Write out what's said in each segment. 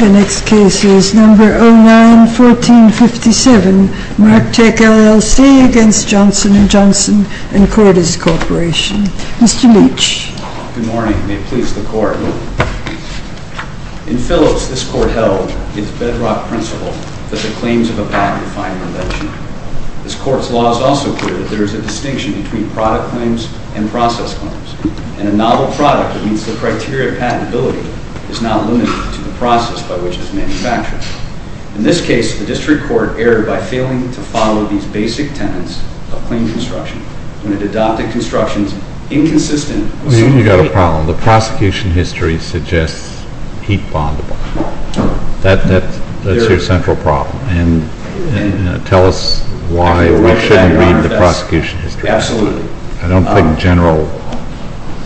The next case is No. 09-1457, Marctec LLC v. Johnson & Johnson & Cordes Corporation. Mr. Leitch. Good morning. May it please the Court. In Phillips, this Court held its bedrock principle that the claims of a patent are fine or legitimate. This Court's law is also clear that there is a distinction between product claims and process claims. In a novel product, it means the criteria of patentability is not limited to the process by which it is manufactured. In this case, the District Court erred by failing to follow these basic tenets of claims construction when it adopted constructions inconsistent with some of the treaties. You've got a problem. The prosecution history suggests heat bondable. That's your central problem. Tell us why we shouldn't read the prosecution history. Absolutely. I don't think general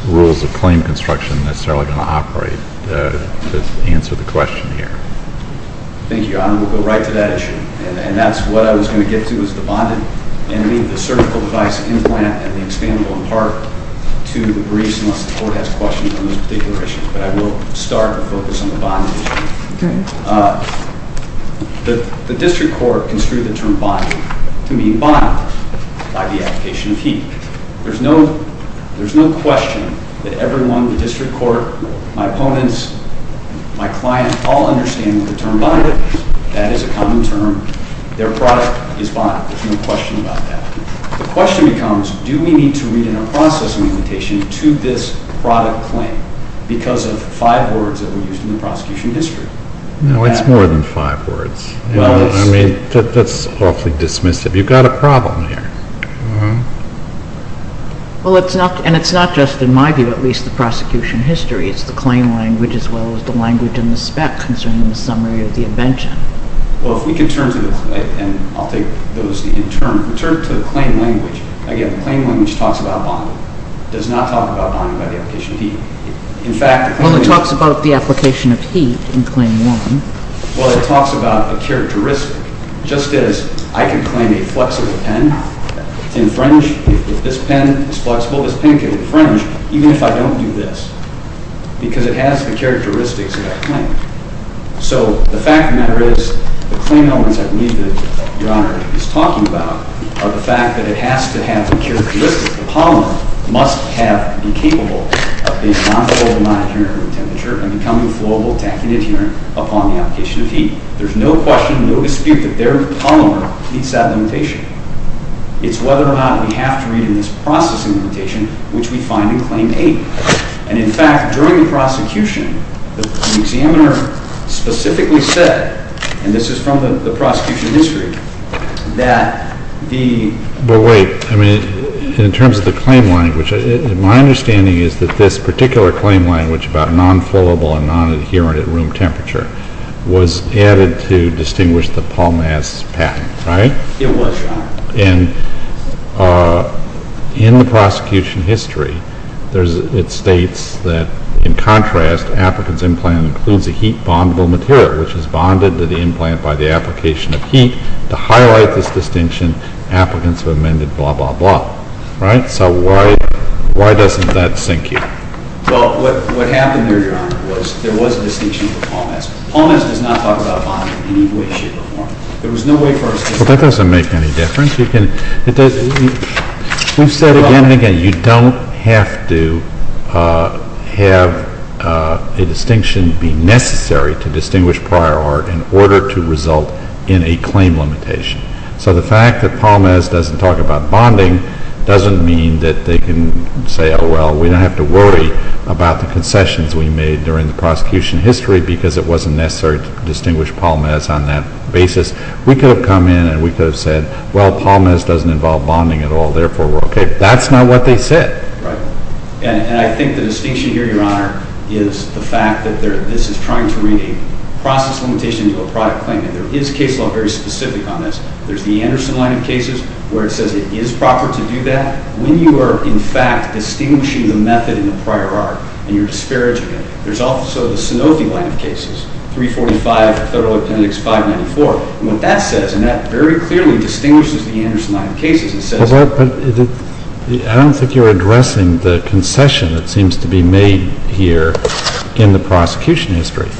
rules of claim construction are necessarily going to operate to answer the question here. Thank you, Your Honor. We'll go right to that issue. And that's what I was going to get to, is the bonded enemy, the surgical device implant, and the expandable impart to the briefs unless the Court has questions on those particular issues. But I will start and focus on the bonded issue. Okay. The District Court construed the term bonded to mean bonded by the application of heat. There's no question that everyone in the District Court, my opponents, my clients, all understand the term bonded. That is a common term. Their product is bonded. There's no question about that. The question becomes, do we need to read in our processing invitation to this product claim because of five words that were used in the prosecution history? No, it's more than five words. I mean, that's awfully dismissive. You've got a problem here. Well, and it's not just, in my view at least, the prosecution history. It's the claim language as well as the language and the spec concerning the summary of the invention. Well, if we can turn to this, and I'll take those in turn. If we turn to the claim language, again, the claim language talks about bonded. It does not talk about bonded by the application of heat. It only talks about the application of heat in Claim 1. Well, it talks about a characteristic, just as I can claim a flexible pen in fringe. If this pen is flexible, this pen can be in fringe even if I don't do this because it has the characteristics of that claim. So the fact of the matter is, the claim elements I believe that Your Honor is talking about are the fact that it has to have the characteristics. The polymer must have, be capable of being non-fluorable, non-adherent to room temperature and becoming fluorable, tacky, and adherent upon the application of heat. There's no question, no dispute that their polymer meets that limitation. It's whether or not we have to read in this processing invitation, which we find in Claim 8. And in fact, during the prosecution, the examiner specifically said, and this is from the prosecution history, that the... But wait, I mean, in terms of the claim language, my understanding is that this particular claim language about non-fluorable and non-adherent at room temperature was added to distinguish the Paul Mass patent, right? It was, Your Honor. And in the prosecution history, it states that in contrast, applicant's implant includes a heat-bondable material, which is bonded to the implant by the application of heat. To highlight this distinction, applicants have amended blah, blah, blah, right? So why doesn't that sink you? Well, what happened there, Your Honor, was there was a distinction for Paul Mass. Paul Mass does not talk about bonding in any way, shape, or form. There was no way for us to... Well, that doesn't make any difference. We've said again and again, you don't have to have a distinction be necessary to distinguish prior art in order to result in a claim limitation. So the fact that Paul Mass doesn't talk about bonding doesn't mean that they can say, oh, well, we don't have to worry about the concessions we made during the prosecution history because it wasn't necessary to distinguish Paul Mass on that basis. We could have come in and we could have said, well, Paul Mass doesn't involve bonding at all. Therefore, we're okay. That's not what they said. Right. And I think the distinction here, Your Honor, is the fact that this is trying to bring a process limitation to a product claim. And there is case law very specific on this. There's the Anderson line of cases where it says it is proper to do that. When you are, in fact, distinguishing the method in the prior art and you're disparaging it, there's also the Sanofi line of cases, 345 Federal Appendix 594. And what that says, and that very clearly distinguishes the Anderson line of cases, it says that I don't think you're addressing the concession that seems to be made here in the prosecution history.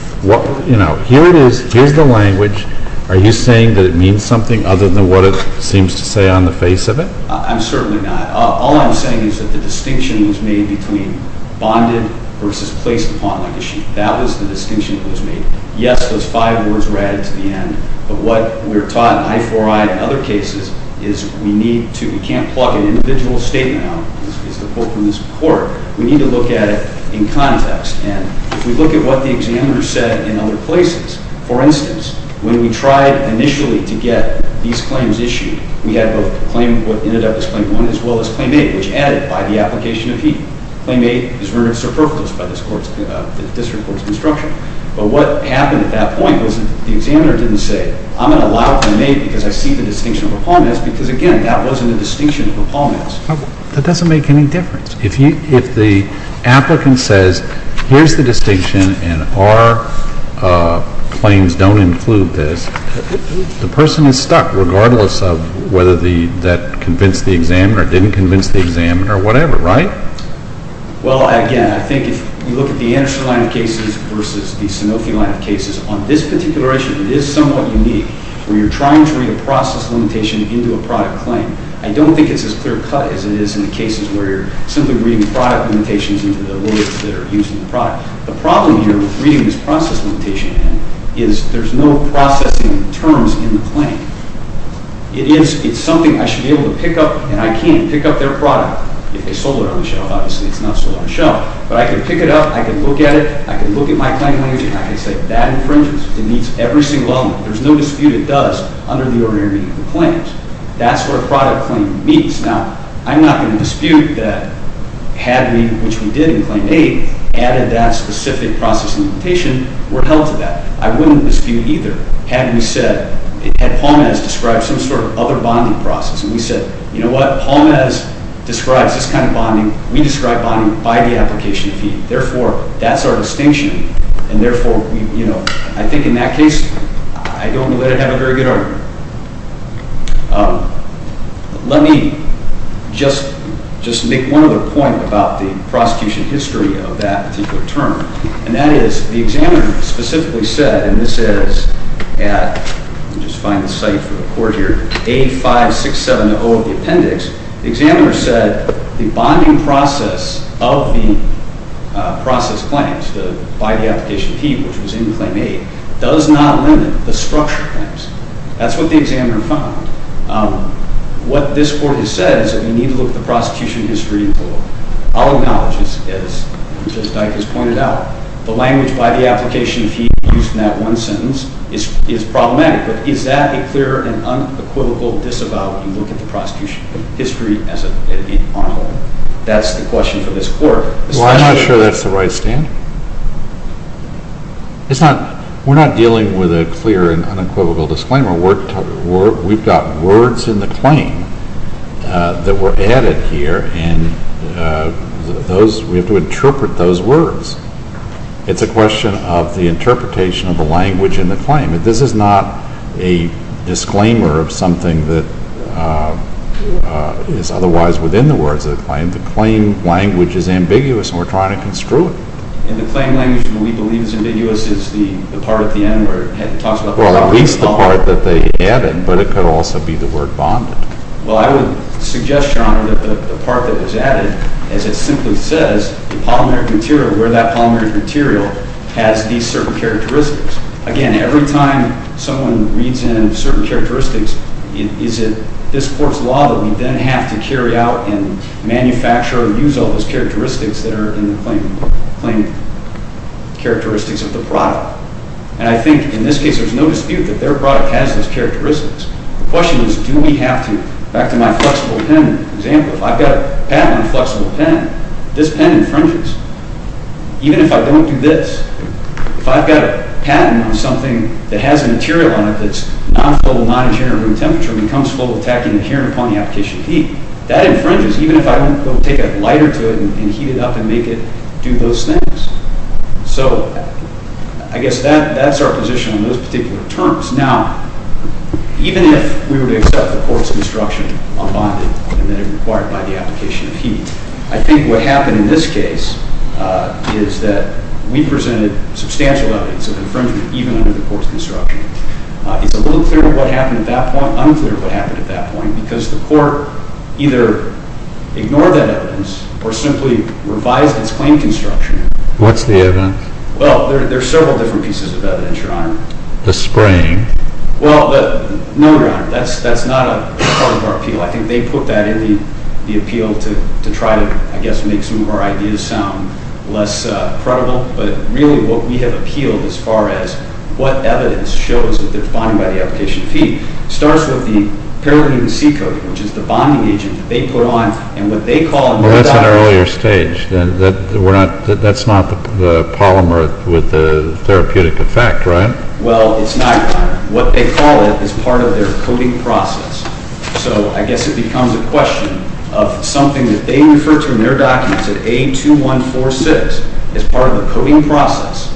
Here it is. Here's the language. Are you saying that it means something other than what it seems to say on the face of it? I'm certainly not. All I'm saying is that the distinction was made between bonded versus placed upon like a sheet. That was the distinction that was made. Yes, those five words were added to the end. But what we're taught in I4I and other cases is we need to, we can't pluck an individual statement out, as the quote from this report. We need to look at it in context. And if we look at what the examiner said in other places, for instance, when we tried initially to get these claims issued, we had both claim, what ended up as Claim 1, as well as Claim 8, which added by the application of heat. Claim 8 is rendered superfluous by the District Court's construction. But what happened at that point was the examiner didn't say, I'm going to allow Claim 8 because I see the distinction of uponness, because, again, that wasn't a distinction of uponness. That doesn't make any difference. If the applicant says, here's the distinction, and our claims don't include this, the person is stuck regardless of whether that convinced the examiner or didn't convince the examiner or whatever, right? Well, again, I think if you look at the Anderson line of cases versus the Sanofi line of cases, on this particular issue, it is somewhat unique where you're trying to read a process limitation into a product claim. I don't think it's as clear-cut as it is in the cases where you're simply reading product limitations into the words that are used in the product. The problem here with reading this process limitation in is there's no processing of terms in the claim. It's something I should be able to pick up, and I can't pick up their product if they sold it on the shelf. Obviously, it's not sold on the shelf. But I can pick it up. I can look at it. I can look at my claim language, and I can say, that infringes. It meets every single element. There's no dispute it does under the ordinary meaning of the claims. That's where a product claim meets. Now, I'm not going to dispute that had we, which we did in Claim 8, added that specific process limitation, we're held to that. I wouldn't dispute either had we said, had Paul Mez described some sort of other bonding process, and we said, you know what? Paul Mez describes this kind of bonding. We describe bonding by the application fee. Therefore, that's our distinction, and therefore, you know, I think in that case, I don't want to let it have a very good argument. Let me just make one other point about the prosecution history of that particular term, and that is the examiner specifically said, and this is at, let me just find the site for the court here, A5670 of the appendix. The examiner said the bonding process of the process claims by the application fee, which was in Claim 8, does not limit the structure claims. That's what the examiner found. What this court has said is that we need to look at the prosecution history in full. I'll acknowledge, as Judge Dyke has pointed out, the language by the application fee used in that one sentence is problematic, but is that a clear and unequivocal disavow when you look at the prosecution history on a whole? That's the question for this court. Well, I'm not sure that's the right standard. We're not dealing with a clear and unequivocal disclaimer. We've got words in the claim that were added here, and we have to interpret those words. It's a question of the interpretation of the language in the claim. This is not a disclaimer of something that is otherwise within the words of the claim. The claim language is ambiguous, and we're trying to construe it. And the claim language that we believe is ambiguous is the part at the end where it talks about the polymeric material. Well, at least the part that they added, but it could also be the word bonded. Well, I would suggest, Your Honor, that the part that was added, as it simply says, the polymeric material, where that polymeric material has these certain characteristics. Again, every time someone reads in certain characteristics, is it this court's law that we then have to carry out and manufacture and use all those characteristics that are in the claim characteristics of the product? And I think, in this case, there's no dispute that their product has those characteristics. The question is, do we have to? Back to my flexible pen example, if I've got a patent on a flexible pen, this pen infringes. Even if I don't do this, if I've got a patent on something that has a material on it that's non-floatable, non-adherent to room temperature, and becomes floatable, tacky, and adherent upon the application of heat, that infringes, even if I don't go take a lighter to it and heat it up and make it do those things. So, I guess that's our position on those particular terms. Now, even if we were to accept the court's instruction on bonding and that it required by the application of heat, I think what happened in this case is that we presented substantial evidence of infringement, even under the court's instruction. It's a little clear what happened at that point, unclear what happened at that point, because the court either ignored that evidence or simply revised its claim construction. What's the evidence? Well, there's several different pieces of evidence, Your Honor. The spraying? Well, no, Your Honor, that's not a part of our appeal. I think they put that in the appeal to try to, I guess, make some of our ideas sound less credible. But, really, what we have appealed as far as what evidence shows that there's bonding by the application of heat, starts with the pyridine C coating, which is the bonding agent that they put on. Well, that's an earlier stage. That's not the polymer with the therapeutic effect, right? Well, it's not, Your Honor. What they call it is part of their coating process. So, I guess it becomes a question of something that they refer to in their documents at A2146 as part of the coating process.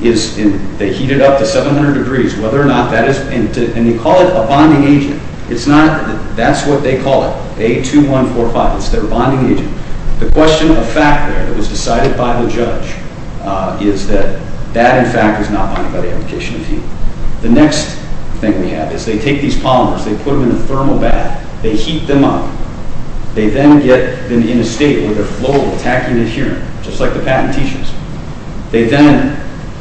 They heat it up to 700 degrees, whether or not that is, and they call it a bonding agent. It's not, that's what they call it, A2145. It's their bonding agent. The question of fact there that was decided by the judge is that that, in fact, is not bonded by the application of heat. The next thing we have is they take these polymers, they put them in a thermal bath, they heat them up. They then get them in a state where they're flowable, tacky and adherent, just like the patent t-shirts. They then,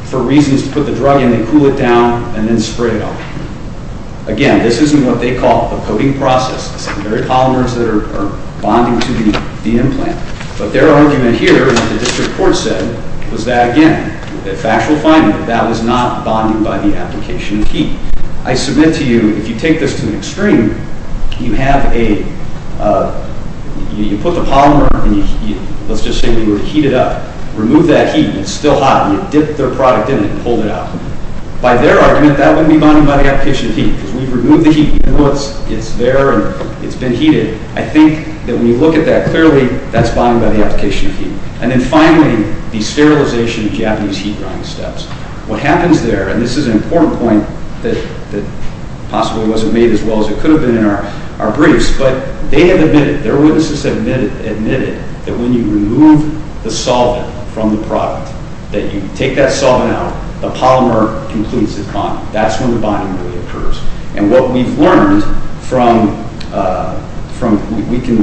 for reasons to put the drug in, they cool it down and then spray it off. Again, this isn't what they call a coating process. It's the very polymers that are bonding to the implant. But their argument here, and what the district court said, was that, again, a factual finding, that that was not bonded by the application of heat. I submit to you, if you take this to the extreme, you have a, you put the polymer and you heat it up. Remove that heat, it's still hot, and you dip their product in it and hold it out. By their argument, that wouldn't be bonded by the application of heat, because we've removed the heat. It's there and it's been heated. I think that when you look at that clearly, that's bonded by the application of heat. And then finally, the sterilization of Japanese heat drying steps. What happens there, and this is an important point that possibly wasn't made as well as it could have been in our briefs, but they have admitted, their witnesses have admitted, that when you remove the solvent from the product, that you take that solvent out, the polymer completes its bonding. That's when the bonding really occurs. And what we've learned from, we can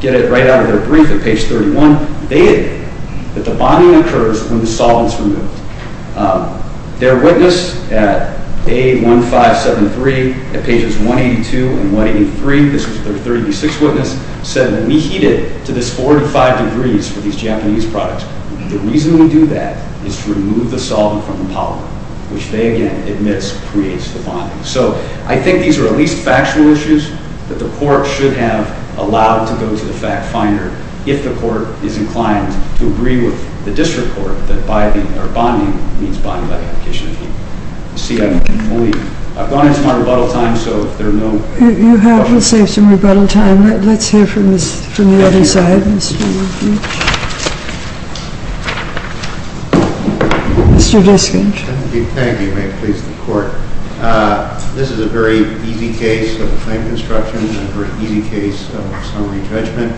get it right out of their brief at page 31, they admit that the bonding occurs when the solvent is removed. Their witness at A1573, at pages 182 and 183, this was their 36th witness, said that we heat it to this 45 degrees for these Japanese products. The reason we do that is to remove the solvent from the polymer, which they again admit creates the bonding. So I think these are at least factual issues that the court should have allowed to go to the fact finder if the court is inclined to agree with the district court that bonding means bonding by the application of heat. You see, I've gone into my rebuttal time, so if there are no... You have, we'll save some rebuttal time. Let's hear from the other side. Mr. Diskin. Thank you. May it please the court. This is a very easy case of claim construction, a very easy case of summary judgment.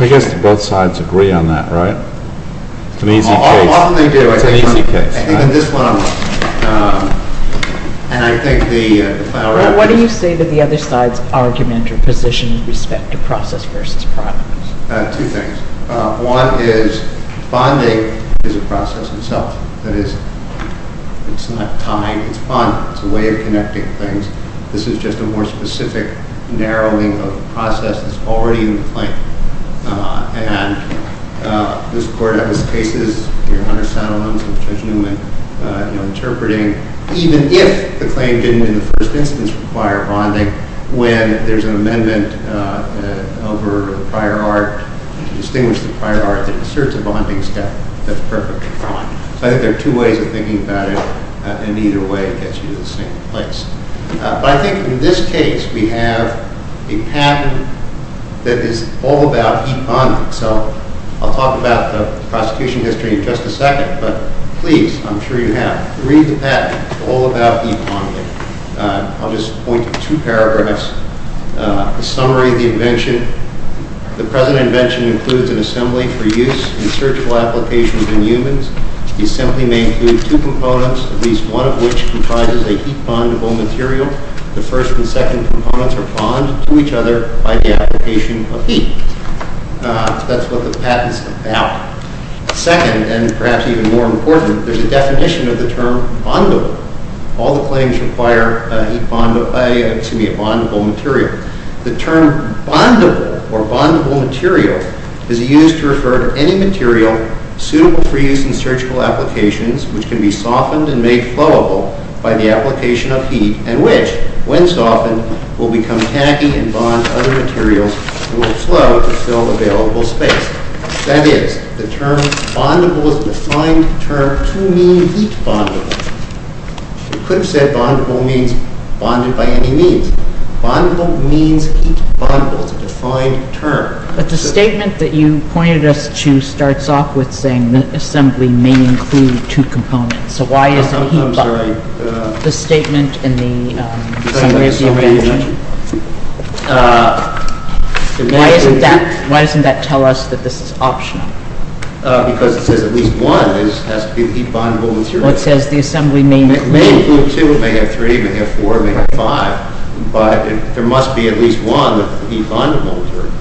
I guess both sides agree on that, right? It's an easy case. Often they do. It's an easy case. I think on this one, and I think the... What do you say to the other side's argument or position with respect to process versus product? Two things. One is, bonding is a process itself. That is, it's not tied, it's bonded. It's a way of connecting things. This is just a more specific narrowing of the process that's already in the claim. And this court has cases, your Honor Satterlund and Judge Newman, interpreting, even if the claim didn't in the first instance require bonding, when there's an amendment over the prior art, to distinguish the prior art that asserts a bonding step, that's perfectly fine. I think there are two ways of thinking about it. In either way, it gets you to the same place. But I think in this case, we have a pattern that is all about e-bonding. So I'll talk about the prosecution history in just a second. But please, I'm sure you have, read the patent. It's all about e-bonding. I'll just point to two paragraphs. The summary of the invention. The present invention includes an assembly for use in searchable applications in humans. The assembly may include two components, at least one of which comprises a heat-bondable material. The first and second components are bonded to each other by the application of heat. That's what the patent's about. Second, and perhaps even more important, there's a definition of the term bondable. All the claims require a bondable material. The term bondable or bondable material is used to refer to any material suitable for use in searchable applications, which can be softened and made flowable by the application of heat, and which, when softened, will become tacky and bond to other materials and will flow to fill available space. That is, the term bondable is a defined term to mean heat-bondable. You could have said bondable means bonded by any means. Bondable means heat-bondable. It's a defined term. But the statement that you pointed us to starts off with saying the assembly may include two components. So why isn't the statement in the summary of the invention? Why doesn't that tell us that this is optional? Because it says at least one has to be heat-bondable material. It says the assembly may include two. It may include two. It may have three. It may have four. It may have five. But there must be at least one that would be bondable material.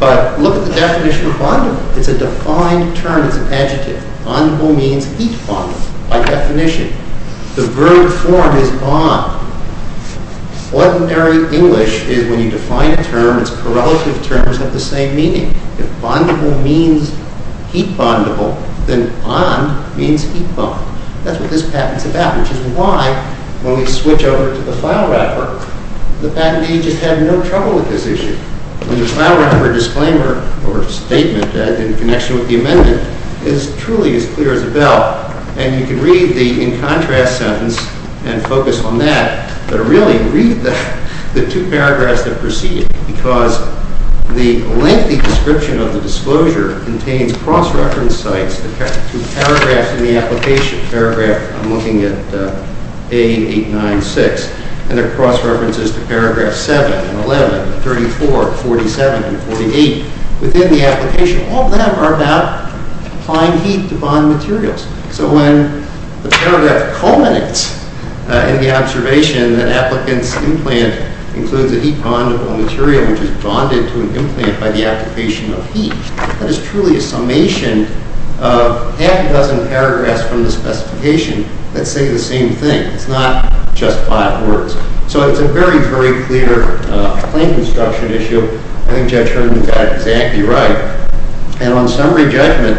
But look at the definition of bondable. It's a defined term. It's an adjective. Bondable means heat-bondable by definition. The verb form is bond. Ordinary English is when you define a term, its correlative terms have the same meaning. If bondable means heat-bondable, then bond means heat-bond. That's what this patent is about, which is why, when we switch over to the file wrapper, the patent agents have no trouble with this issue. The file wrapper disclaimer or statement in connection with the amendment is truly as clear as a bell. And you can read the in-contrast sentence and focus on that, but really read the two paragraphs that precede it, because the lengthy description of the disclosure contains cross-reference sites, the two paragraphs in the application, paragraph, I'm looking at A896, and there are cross-references to paragraphs 7 and 11, 34, 47, and 48 within the application. All of them are about applying heat to bond materials. So when the paragraph culminates in the observation that applicants' implant includes a heat-bondable material which is bonded to an implant by the application of heat, that is truly a summation of half a dozen paragraphs from the specification that say the same thing. It's not just five words. So it's a very, very clear claim construction issue. I think Judge Sherman is exactly right. And on summary judgment,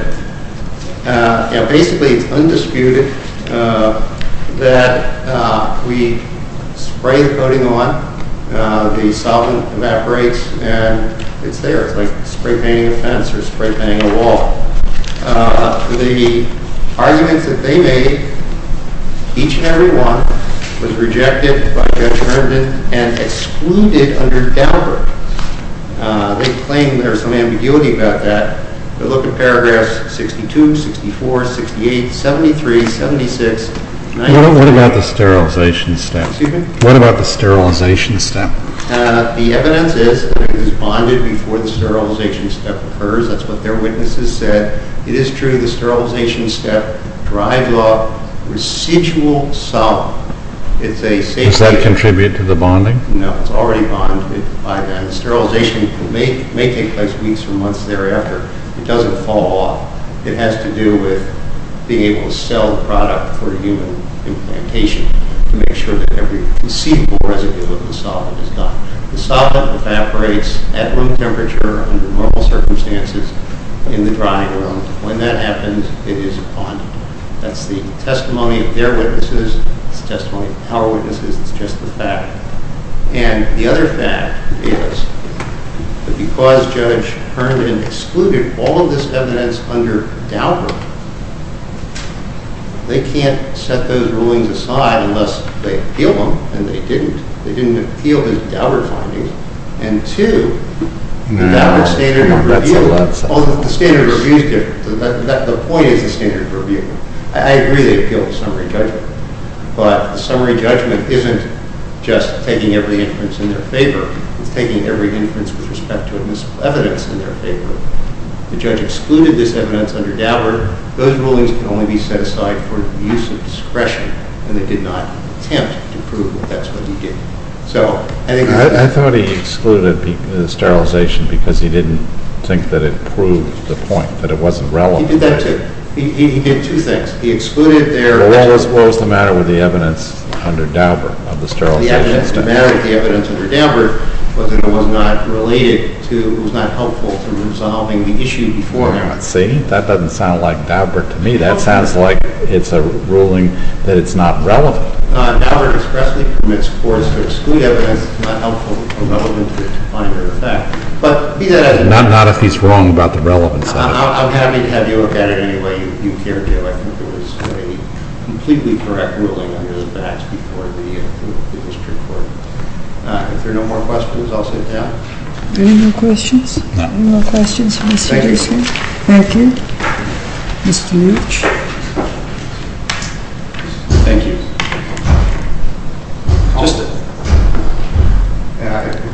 basically it's undisputed that we spray the coating on, the solvent evaporates, and it's there. It's like spray painting a fence or spray painting a wall. The arguments that they made, each and every one, was rejected by Judge Sherman and excluded under Daubert. They claim there's some ambiguity about that. They look at paragraphs 62, 64, 68, 73, 76, 99. What about the sterilization step? Excuse me? What about the sterilization step? The evidence is that it is bonded before the sterilization step occurs. That's what their witnesses said. It is true the sterilization step drives off residual solvent. Does that contribute to the bonding? No, it's already bonded by then. Sterilization may take place weeks or months thereafter. It doesn't fall off. It has to do with being able to sell the product for human implantation to make sure that every conceivable residue of the solvent is gone. The solvent evaporates at room temperature under normal circumstances in the drying room. When that happens, it is bonded. That's the testimony of their witnesses. It's the testimony of our witnesses. It's just the fact. And the other fact is that because Judge Herman excluded all of this evidence under Daubert, they can't set those rulings aside unless they appeal them, and they didn't. They didn't appeal the Daubert findings. And two, the Daubert standard of review, the standard of review is different. The point is the standard of review. I agree they appealed the summary judgment, but the summary judgment isn't just taking every inference in their favor. It's taking every inference with respect to evidence in their favor. The judge excluded this evidence under Daubert. Those rulings can only be set aside for the use of discretion, and they did not attempt to prove that that's what he did. I thought he excluded the sterilization because he didn't think that it proved the point, that it wasn't relevant. He did two things. He excluded their evidence. Well, what was the matter with the evidence under Daubert of the sterilization standard? The matter with the evidence under Daubert was that it was not related to, it was not helpful to resolving the issue beforehand. See, that doesn't sound like Daubert to me. That sounds like it's a ruling that it's not relevant. Daubert expressly permits courts to exclude evidence that's not helpful or relevant to find or affect. But be that as it may. Not if he's wrong about the relevance of it. I'll have you look at it any way you care to. I think it was a completely correct ruling under the Batch before the district court. If there are no more questions, I'll sit down. Are there any more questions? No. Any more questions from the students here? Thank you. Any more questions? Mr. Much? Thank you.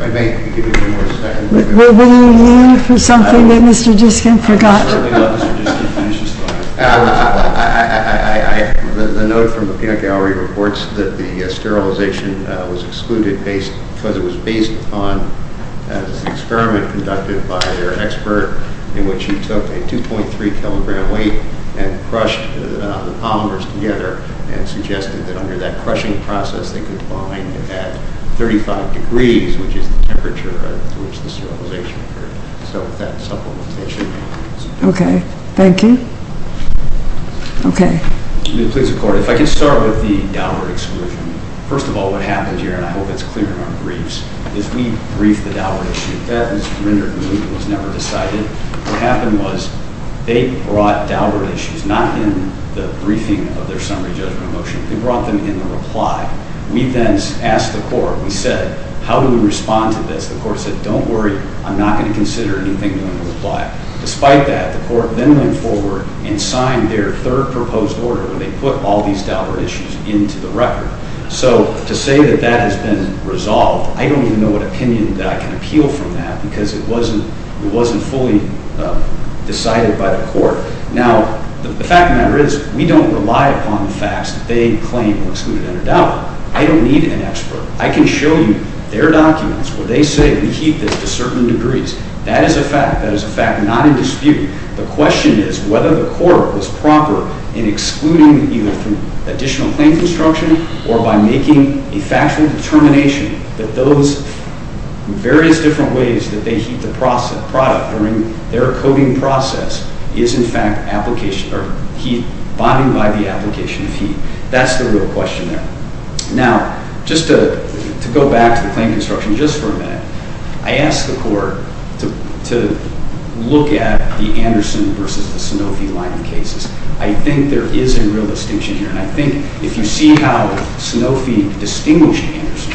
I may give you a few more seconds. Were you in for something that Mr. Diskin forgot? I certainly was. Mr. Diskin finished his thought. The note from the Penak Gallery reports that the sterilization was excluded because it was based upon an experiment conducted by their expert in which he took a 2.3-kilogram weight and crushed the polymers together and suggested that under that crushing process they could bind at 35 degrees, which is the temperature at which the sterilization occurred. So with that supplementation... Okay. Thank you. Okay. Please record. If I can start with the Daubert exclusion. First of all, what happens here, and I hope it's clear in our briefs, is we brief the Daubert issue. That was rendered to me. It was never decided. What happened was they brought Daubert issues, not in the briefing of their summary judgment motion. They brought them in the reply. We then asked the court. We said, how do we respond to this? The court said, don't worry. I'm not going to consider anything in the reply. Despite that, the court then went forward and signed their third proposed order where they put all these Daubert issues into the record. So to say that that has been resolved, I don't even know what opinion that I can appeal from that because it wasn't fully decided by the court. Now, the fact of the matter is we don't rely upon the facts that they claim were excluded under Daubert. I don't need an expert. I can show you their documents where they say we keep this to certain degrees. That is a fact. That is a fact not in dispute. The question is whether the court was proper in excluding either from additional claim construction or by making a factual determination that those various different ways that they heat the product during their coating process is in fact bonding by the application of heat. That's the real question there. Now, just to go back to the claim construction just for a minute, I asked the court to look at the Anderson versus the Sanofi line of cases. I think there is a real distinction here, and I think if you see how Sanofi distinguished Anderson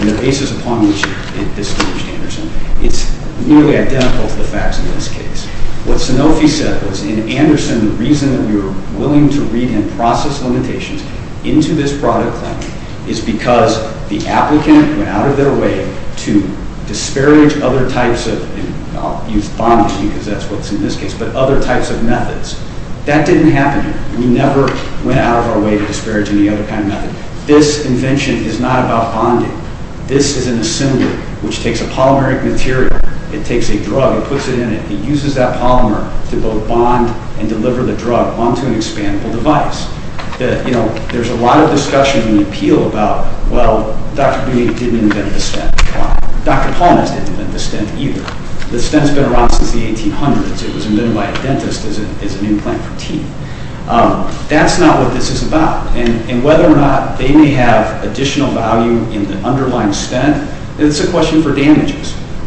and the basis upon which it distinguished Anderson, it's nearly identical to the facts in this case. What Sanofi said was in Anderson the reason that we were willing to read and process limitations into this product claim is because the applicant went out of their way to disparage other types of I'll use bonding because that's what's in this case, but other types of methods. That didn't happen here. We never went out of our way to disparage any other kind of method. This invention is not about bonding. This is an assembly which takes a polymeric material, it takes a drug, it puts it in it, it uses that polymer to both bond and deliver the drug onto an expandable device. There's a lot of discussion in the appeal about, well, Dr. Bunyik didn't invent the stent product. Dr. Paulness didn't invent the stent either. The stent's been around since the 1800s. It was invented by a dentist as an implant for teeth. That's not what this is about, and whether or not they may have additional value in the underlying stent, it's a question for damages.